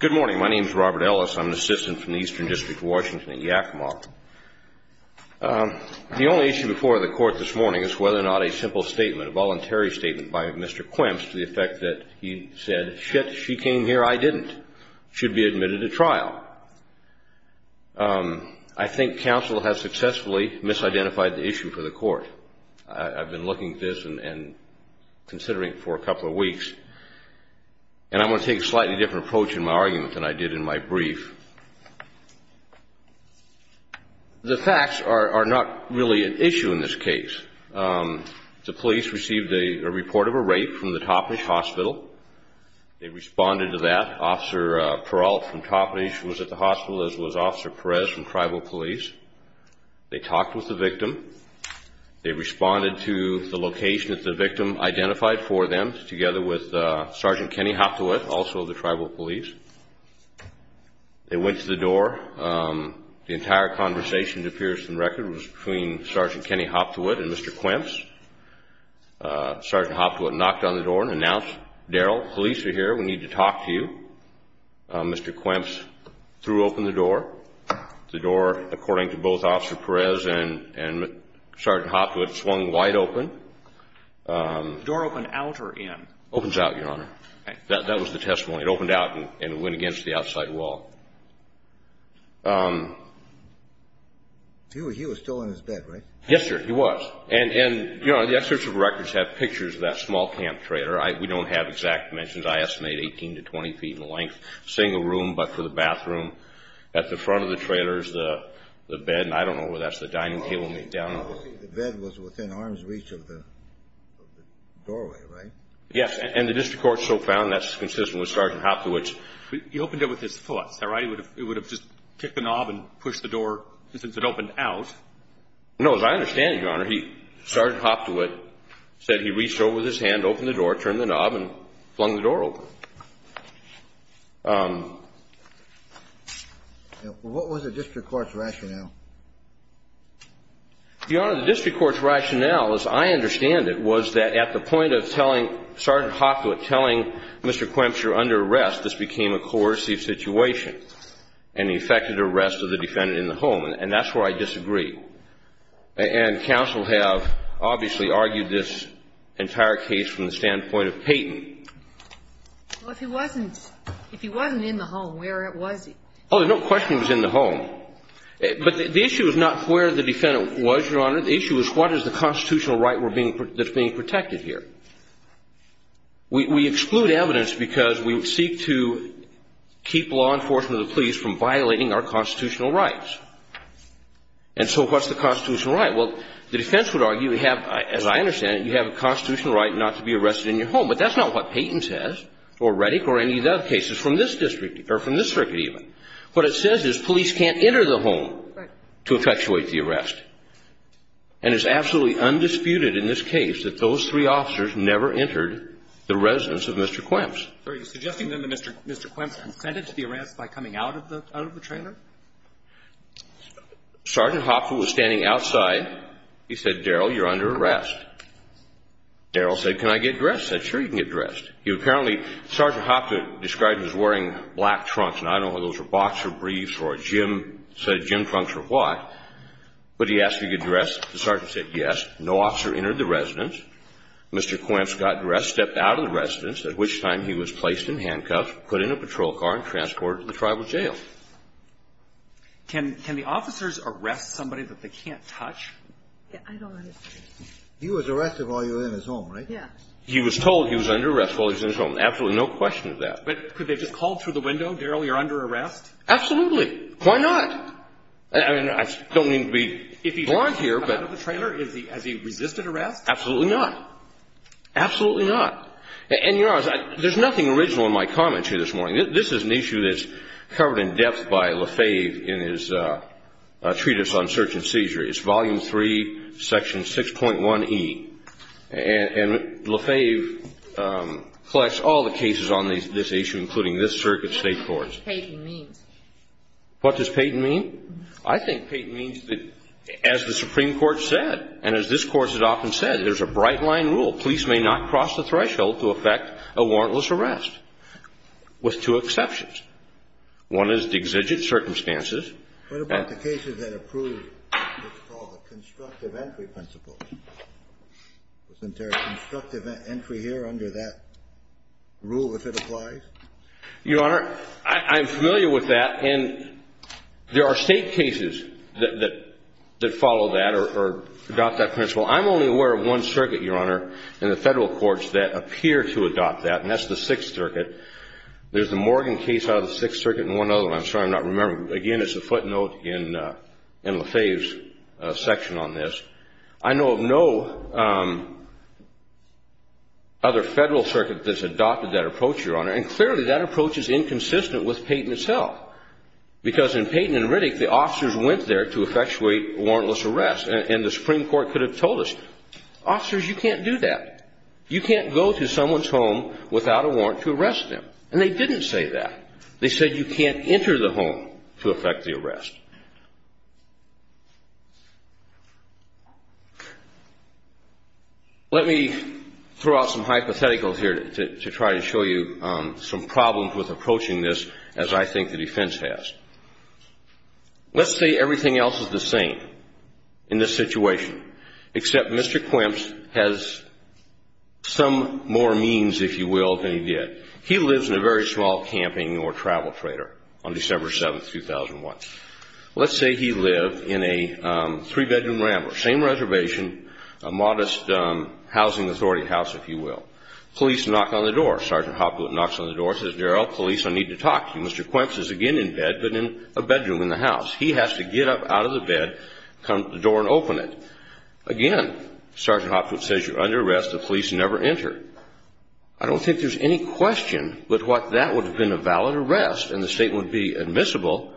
Good morning. My name is Robert Ellis. I'm an assistant from the Eastern District of Washington at Yakima. The only issue before the Court this morning is whether or not a simple statement, a voluntary statement by Mr. Quaempts to the effect that he said, shit, she came here, I didn't, should be admitted to trial. I think counsel has successfully misidentified the issue for the Court. I've been looking at this and considering it for a couple of weeks. And I'm going to take a slightly different approach in my argument than I did in my brief. The facts are not really an issue in this case. The police received a report of a rape from the Toppenish Hospital. They responded to that. Officer Peralt from Toppenish was at the hospital as was Officer Perez from Tribal Police. They talked with the victim. They responded to the location that the victim identified for them, together with Sergeant Kenny Hopthewitt, also of the Tribal Police. They went to the door. The entire conversation, it appears on the record, was between Sergeant Kenny Hopthewitt and Mr. Quaempts. Sergeant Hopthewitt knocked on the door and announced, Daryl, police are here, we need to talk to you. Mr. Quaempts threw open the door. The door, according to both Officer Perez and Sergeant Hopthewitt, swung wide open. The door opened out or in? Opens out, Your Honor. Okay. That was the testimony. It opened out and went against the outside wall. He was still in his bed, right? Yes, sir, he was. And, Your Honor, the excerpts of records have pictures of that small camp trailer. We don't have exact dimensions. I estimate 18 to 20 feet in length, single room but for the bathroom. At the front of the trailer is the bed and I don't know where that's the dining table. The bed was within arm's reach of the doorway, right? Yes, and the district court so found that's consistent with Sergeant Hopthewitt's. He opened it with his foot. Is that right? It would have just kicked the knob and pushed the door since it opened out. No, as I understand it, Your Honor, Sergeant Hopthewitt said he reached over with his hand, opened the door, turned the knob and flung the door open. What was the district court's rationale? Your Honor, the district court's rationale, as I understand it, was that at the point of telling Sergeant Hopthewitt, telling Mr. Kwempsch you're under arrest, this became a coercive situation and he effected arrest of the defendant in the home and that's where I disagree. And counsel have obviously argued this entire case from the standpoint of Payton. Well, if he wasn't in the home, where was he? Oh, there's no question he was in the home. But the issue is not where the defendant was, Your Honor. The issue is what is the constitutional right that's being protected here. We exclude evidence because we seek to keep law enforcement and the police from violating our constitutional rights. And so what's the constitutional right? Well, the defense would argue you have, as I understand it, you have a constitutional right not to be arrested in your home. But that's not what Payton says or Reddick or any of the other cases from this district or from this circuit even. What it says is police can't enter the home to effectuate the arrest. And it's absolutely undisputed in this case that those three officers never entered the residence of Mr. Kwempsch. Are you suggesting then that Mr. Kwempsch consented to the arrest by coming out of the trailer? Sergeant Hopda was standing outside. He said, Darrell, you're under arrest. Darrell said, can I get dressed? I said, sure, you can get dressed. He apparently, Sergeant Hopda described him as wearing black trunks. And I don't know whether those were boxer briefs or a gym, said gym trunks or what. But he asked if he could get dressed. The sergeant said yes. No officer entered the residence. Mr. Kwempsch got dressed, stepped out of the residence, at which time he was placed in handcuffs, put in a patrol car, and transported to the tribal jail. Can the officers arrest somebody that they can't touch? I don't understand. He was arrested while you were in his home, right? Yes. He was told he was under arrest while he was in his home. Absolutely no question of that. But could they have just called through the window, Darrell, you're under arrest? Absolutely. Why not? I mean, I don't mean to be blunt here. If he had come out of the trailer, has he resisted arrest? Absolutely not. Absolutely not. And you know, there's nothing original in my comments here this morning. This is an issue that's covered in depth by LaFave in his treatise on search and seizure. It's Volume 3, Section 6.1e. And LaFave collects all the cases on this issue, including this circuit state court. What does Peyton mean? What does Peyton mean? I think Peyton means that, as the Supreme Court said, and as this Court has often said, there's a bright line rule. Police may not cross the threshold to effect a warrantless arrest, with two exceptions. One is exigent circumstances. What about the cases that approve what's called a constructive entry principle? Wasn't there a constructive entry here under that rule, if it applies? Your Honor, I'm familiar with that. And there are state cases that follow that or adopt that principle. I'm only aware of one circuit, Your Honor, in the federal courts that appear to adopt that, and that's the Sixth Circuit. There's the Morgan case out of the Sixth Circuit and one other one. I'm sorry I'm not remembering. Again, it's a footnote in LaFave's section on this. I know of no other federal circuit that's adopted that approach, Your Honor. And clearly, that approach is inconsistent with Peyton itself, because in Peyton and Riddick, the officers went there to effectuate warrantless arrest. And the Supreme Court could have told us, officers, you can't do that. You can't go to someone's home without a warrant to arrest them. And they didn't say that. They said you can't enter the home to effect the arrest. Let me throw out some hypotheticals here to try to show you some problems with approaching this, as I think the defense has. Let's say everything else is the same in this situation, except Mr. Quimps has some more means, if you will, than he did. He lives in a very small camping or travel freighter on December 7, 2001. Let's say he lived in a three-bedroom rambler, same reservation, a modest housing authority house, if you will. Police knock on the door. Sergeant Hopwood knocks on the door, says, Darrell, police, I need to talk to you. Well, Mr. Quimps is again in bed, but in a bedroom in the house. He has to get up out of the bed, come to the door and open it. Again, Sergeant Hopwood says, you're under arrest. The police never enter. I don't think there's any question but what that would have been a valid arrest, and the state would be admissible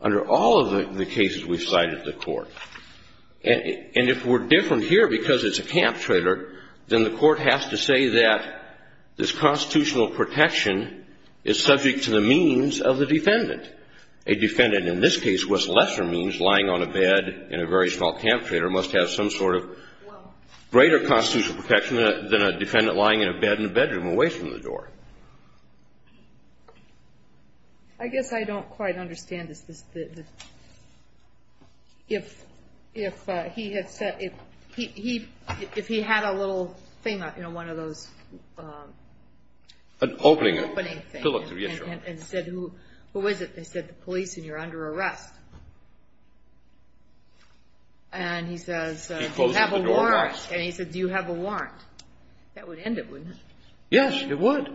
under all of the cases we've cited to the court. And if we're different here because it's a camp trailer, then the court has to say that this constitutional protection is subject to the means of the defendant. A defendant in this case was lesser means, lying on a bed in a very small camp trailer, must have some sort of greater constitutional protection than a defendant lying in a bed in a bedroom away from the door. I guess I don't quite understand this. If he had a little thing, you know, one of those opening things and said, who is it? They said, the police, and you're under arrest. And he says, do you have a warrant? That would end it, wouldn't it? Yes, it would.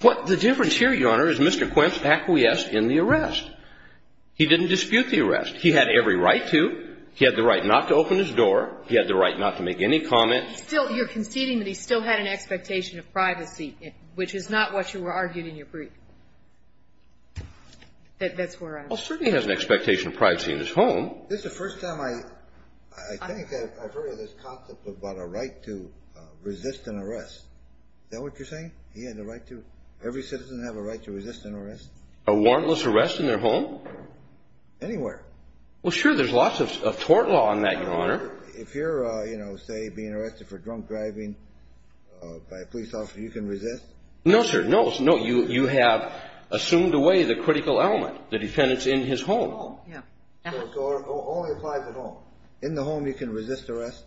But the difference here, Your Honor, is Mr. Quint acquiesced in the arrest. He didn't dispute the arrest. He had every right to. He had the right not to open his door. He had the right not to make any comments. You're conceding that he still had an expectation of privacy, which is not what you were arguing in your brief. That's where I was. Well, certainly he has an expectation of privacy in his home. This is the first time I think I've heard of this concept about a right to resist an arrest. Is that what you're saying? He had the right to? Every citizen has a right to resist an arrest? A warrantless arrest in their home? Anywhere. Well, sure, there's lots of tort law on that, Your Honor. If you're, you know, say, being arrested for drunk driving by a police officer, you can resist? No, sir, no. No, you have assumed away the critical element, the defendant's in his home. So it only applies at home. In the home, you can resist arrest?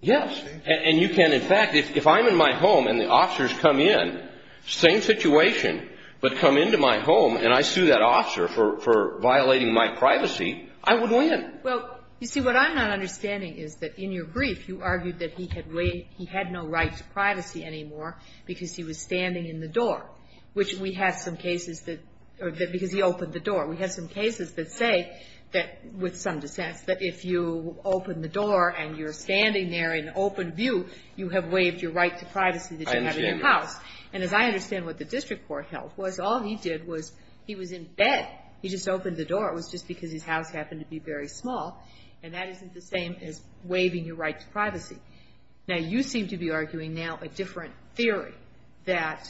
Yes. And you can, in fact, if I'm in my home and the officers come in, same situation, but come into my home and I sue that officer for violating my privacy, I would win. Well, you see, what I'm not understanding is that in your brief, you argued that he had no right to privacy anymore because he was standing in the door, which we have some cases that, because he opened the door. We have some cases that say that, with some dissents, that if you open the door and you're standing there in open view, you have waived your right to privacy that you have in your house. And as I understand what the district court held was, all he did was he was in bed. He just opened the door. It was just because his house happened to be very small. And that isn't the same as waiving your right to privacy. Now, you seem to be arguing now a different theory, that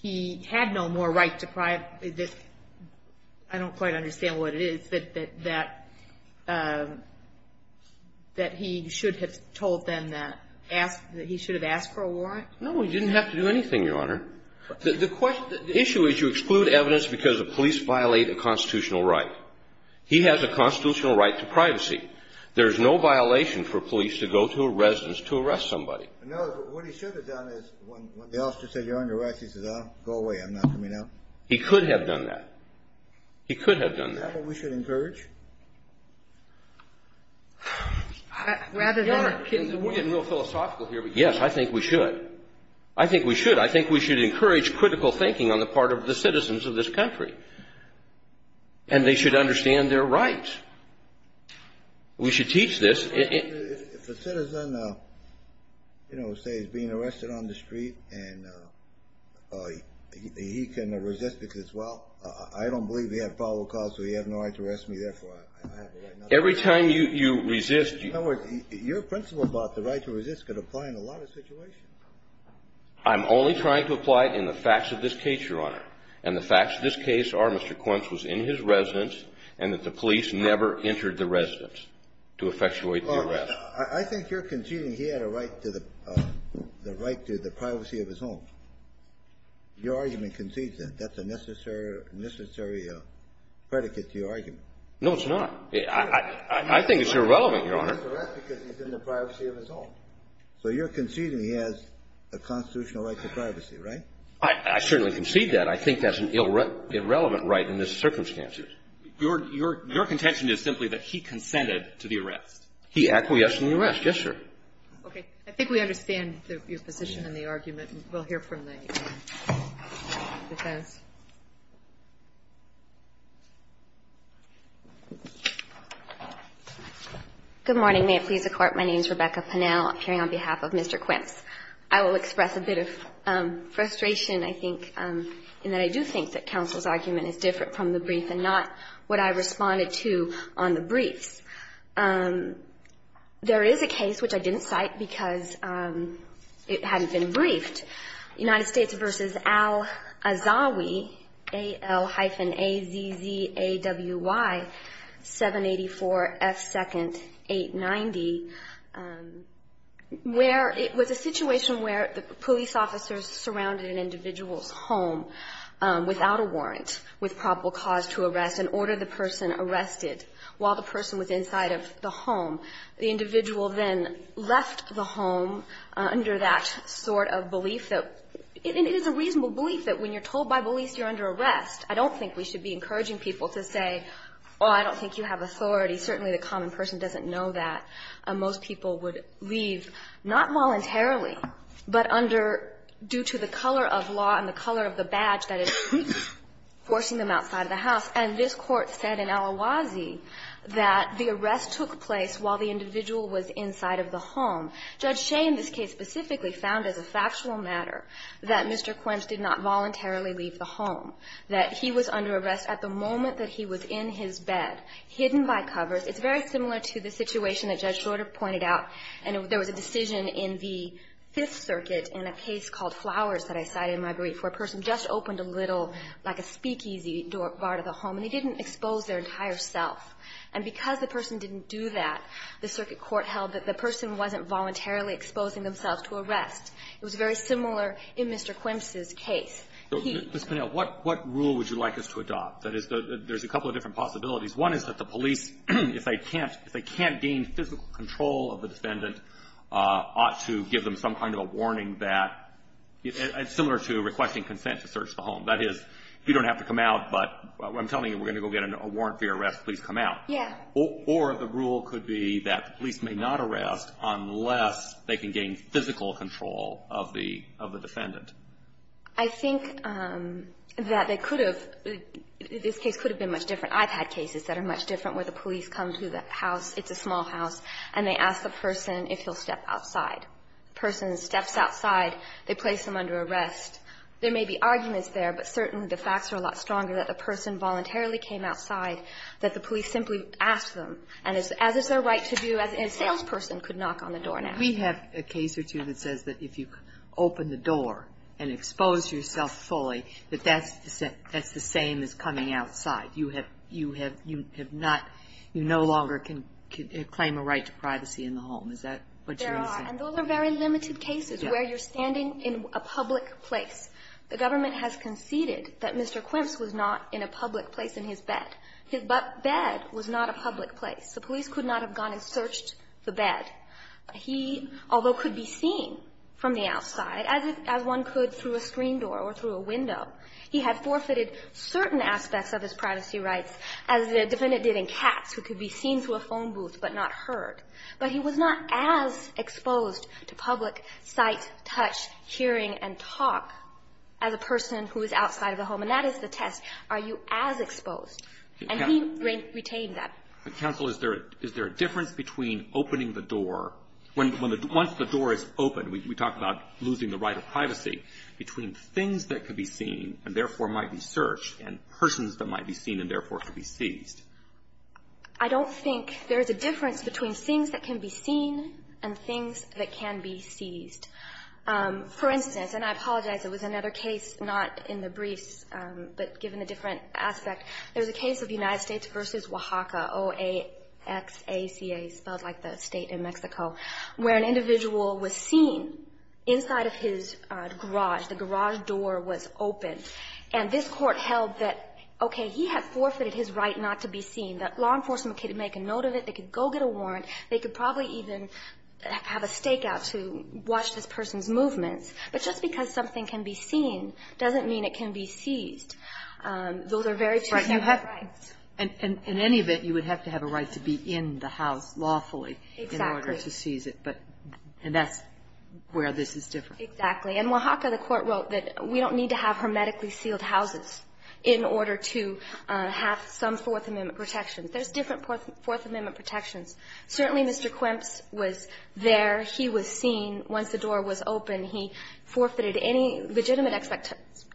he had no more right to privacy. I don't quite understand what it is, that he should have told them that he should have asked for a warrant? No, he didn't have to do anything, Your Honor. The issue is you exclude evidence because the police violate a constitutional right. He has a constitutional right to privacy. There is no violation for police to go to a residence to arrest somebody. No, what he should have done is when the officer said, you're under arrest, he said, go away. I'm not coming out. He could have done that. He could have done that. Is that what we should encourage? Your Honor, we're getting real philosophical here. Yes, I think we should. I think we should. I think we should encourage critical thinking on the part of the citizens of this country. And they should understand their rights. We should teach this. If a citizen, you know, say is being arrested on the street and he can resist because, well, I don't believe he had probable cause, so he has no right to arrest me, therefore I have the right not to. Every time you resist. Your principle about the right to resist could apply in a lot of situations. I'm only trying to apply it in the facts of this case, Your Honor. And the facts of this case are Mr. Quince was in his residence and that the police never entered the residence to effectuate the arrest. I think you're conceding he had a right to the privacy of his home. Your argument concedes that. That's a necessary predicate to your argument. No, it's not. I think it's irrelevant, Your Honor. Because he's in the privacy of his home. So you're conceding he has a constitutional right to privacy, right? I certainly concede that. I think that's an irrelevant right in this circumstance. Your contention is simply that he consented to the arrest. He acquiesced in the arrest. Yes, sir. Okay. I think we understand your position in the argument. We'll hear from the defense. Good morning. May it please the Court. My name is Rebecca Pinnell. I'm appearing on behalf of Mr. Quince. I will express a bit of frustration, I think, in that I do think that counsel's argument is different from the brief and not what I responded to on the briefs. There is a case, which I didn't cite because it hadn't been briefed, United States v. Al-Azawi, A-L-hyphen-A-Z-Z-A-W-Y, 784 F. 2nd, 890, where it was a situation where the police officers surrounded an individual's home without a warrant, with probable cause to arrest, and ordered the person arrested while the person was inside of the home. The individual then left the home under that sort of belief that – it is a reasonable belief that when you're told by police you're under arrest. I don't think we should be encouraging people to say, well, I don't think you have authority. Certainly, the common person doesn't know that. Most people would leave not voluntarily, but under – due to the color of law and the color of the badge that is forcing them outside of the house. And this Court said in Al-Azawi that the arrest took place while the individual was inside of the home. Judge Shea in this case specifically found as a factual matter that Mr. Quince did not voluntarily leave the home, that he was under arrest at the moment that he was in his bed, hidden by covers. It's very similar to the situation that Judge Shorter pointed out. And there was a decision in the Fifth Circuit in a case called Flowers that I cited in my brief where a person just opened a little, like a speakeasy, door – bar to the home, and they didn't expose their entire self. And because the person didn't do that, the circuit court held that the person wasn't voluntarily exposing themselves to arrest. It was very similar in Mr. Quince's case. He – Ms. Pinnell, what rule would you like us to adopt? That is, there's a couple of different possibilities. One is that the police, if they can't – if they can't gain physical control of the defendant, ought to give them some kind of a warning that – it's similar to requesting consent to search the home. That is, you don't have to come out, but I'm telling you we're going to go get a warrant for your arrest. Please come out. Yeah. Or the rule could be that the police may not arrest unless they can gain physical control of the – of the defendant. I think that they could have – this case could have been much different. I've had cases that are much different where the police come to the house, it's a small house, and they ask the person if he'll step outside. The person steps outside, they place them under arrest. There may be arguments there, but certainly the facts are a lot stronger that the person voluntarily came outside, that the police simply asked them. And as is their right to do, a salesperson could knock on the door now. We have a case or two that says that if you open the door and expose yourself fully, that that's the same as coming outside. You have – you have not – you no longer can claim a right to privacy in the home. Is that what you're saying? There are. And those are very limited cases where you're standing in a public place. The government has conceded that Mr. Quimps was not in a public place in his bed. His bed was not a public place. The police could not have gone and searched the bed. He, although could be seen from the outside, as if – as one could through a screen door or through a window, he had forfeited certain aspects of his privacy rights, as the defendant did in Katz, who could be seen through a phone booth but not heard. But he was not as exposed to public sight, touch, hearing, and talk as a person who was outside of the home. And that is the test. Are you as exposed? And he retained that. But, counsel, is there – is there a difference between opening the door – when the – once the door is open, we talk about losing the right of privacy, between things that could be seen and, therefore, might be searched and persons that might be seen and, therefore, could be seized? I don't think there is a difference between things that can be seen and things that can be seized. For instance – and I apologize. It was another case, not in the briefs, but given a different aspect. There was a case of United States v. Oaxaca, O-A-X-A-C-A, spelled like the state in Mexico, where an individual was seen inside of his garage. The garage door was open. And this court held that, okay, he had forfeited his right not to be seen. The law enforcement could make a note of it. They could go get a warrant. They could probably even have a stakeout to watch this person's movements. But just because something can be seen doesn't mean it can be seized. Those are very different rights. And in any event, you would have to have a right to be in the house lawfully in order to seize it. Exactly. And that's where this is different. Exactly. In Oaxaca, the Court wrote that we don't need to have hermetically sealed houses in order to have some Fourth Amendment protections. There's different Fourth Amendment protections. Certainly, Mr. Quimps was there. He was seen. Once the door was open, he forfeited any legitimate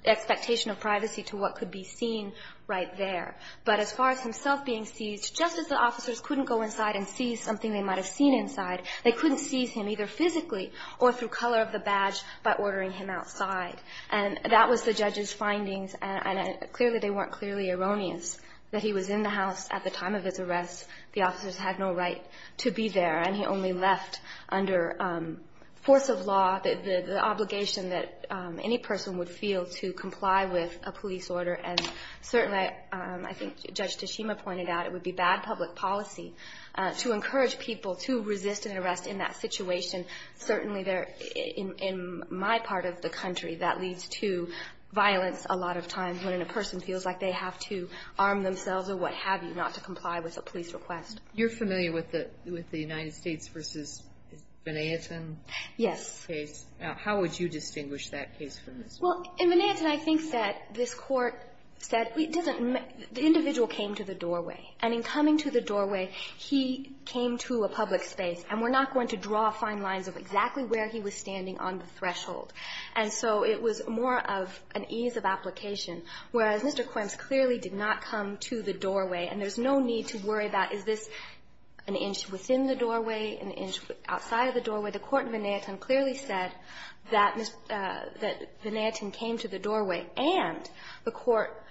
expectation of privacy to what could be seen right there. But as far as himself being seized, just as the officers couldn't go inside and seize something they might have seen inside, they couldn't seize him either physically or through color of the badge by ordering him outside. And that was the judge's findings, and they weren't clearly erroneous that he was in the house at the time of his arrest. The officers had no right to be there, and he only left under force of law the obligation that any person would feel to comply with a police order. And certainly, I think Judge Tashima pointed out, it would be bad public policy to encourage people to resist an arrest in that situation. Certainly, in my part of the country, that leads to violence a lot of times when a person feels like they have to arm themselves or what have you not to comply with a police request. You're familiar with the United States v. Van Anten case? Yes. How would you distinguish that case from this one? Well, in Van Anten, I think that this Court said the individual came to the doorway. And in coming to the doorway, he came to a public space, and we're not going to draw fine lines of exactly where he was standing on the threshold. And so it was more of an ease of application, whereas Mr. Quimps clearly did not come to the doorway. And there's no need to worry about is this an inch within the doorway, an inch outside of the doorway. The Court in Van Anten clearly said that Van Anten came to the doorway. And the Court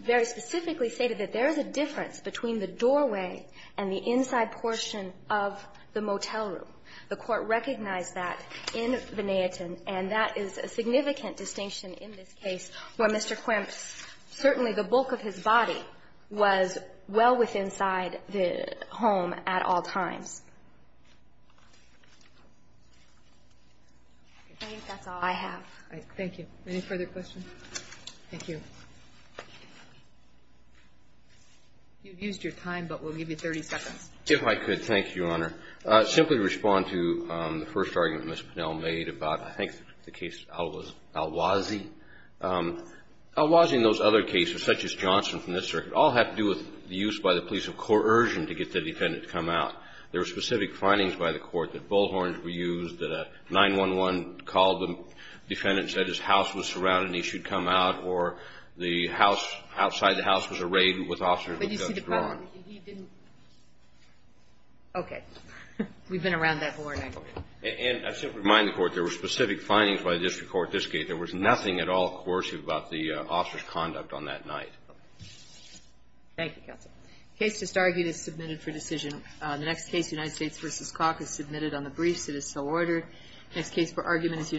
very specifically stated that there is a difference between the doorway and the inside portion of the motel room. The Court recognized that in Van Anten, and that is a significant distinction in this case, where Mr. Quimps, certainly the bulk of his body was well within inside the home at all times. I think that's all I have. Thank you. Any further questions? Thank you. You've used your time, but we'll give you 30 seconds. If I could, thank you, Your Honor. Simply respond to the first argument Ms. Pinell made about, I think, the case of Alwazi. Alwazi and those other cases, such as Johnson from this circuit, all have to do with the use by the police of coercion to get the defendant to come out. There were specific findings by the Court that bullhorns were used, that a 911 called the defendant and said his house was surrounded and he should come out, or the house outside the house was arrayed with officers with guns drawn. Okay. We've been around that board. And I simply remind the Court, there were specific findings by the district court at this case. There was nothing at all coercive about the officer's conduct on that night. Thank you, Counsel. The case just argued is submitted for decision. The next case, United States v. Calk, is submitted on the briefs. It is so ordered. The next case for argument is United States v. Calk.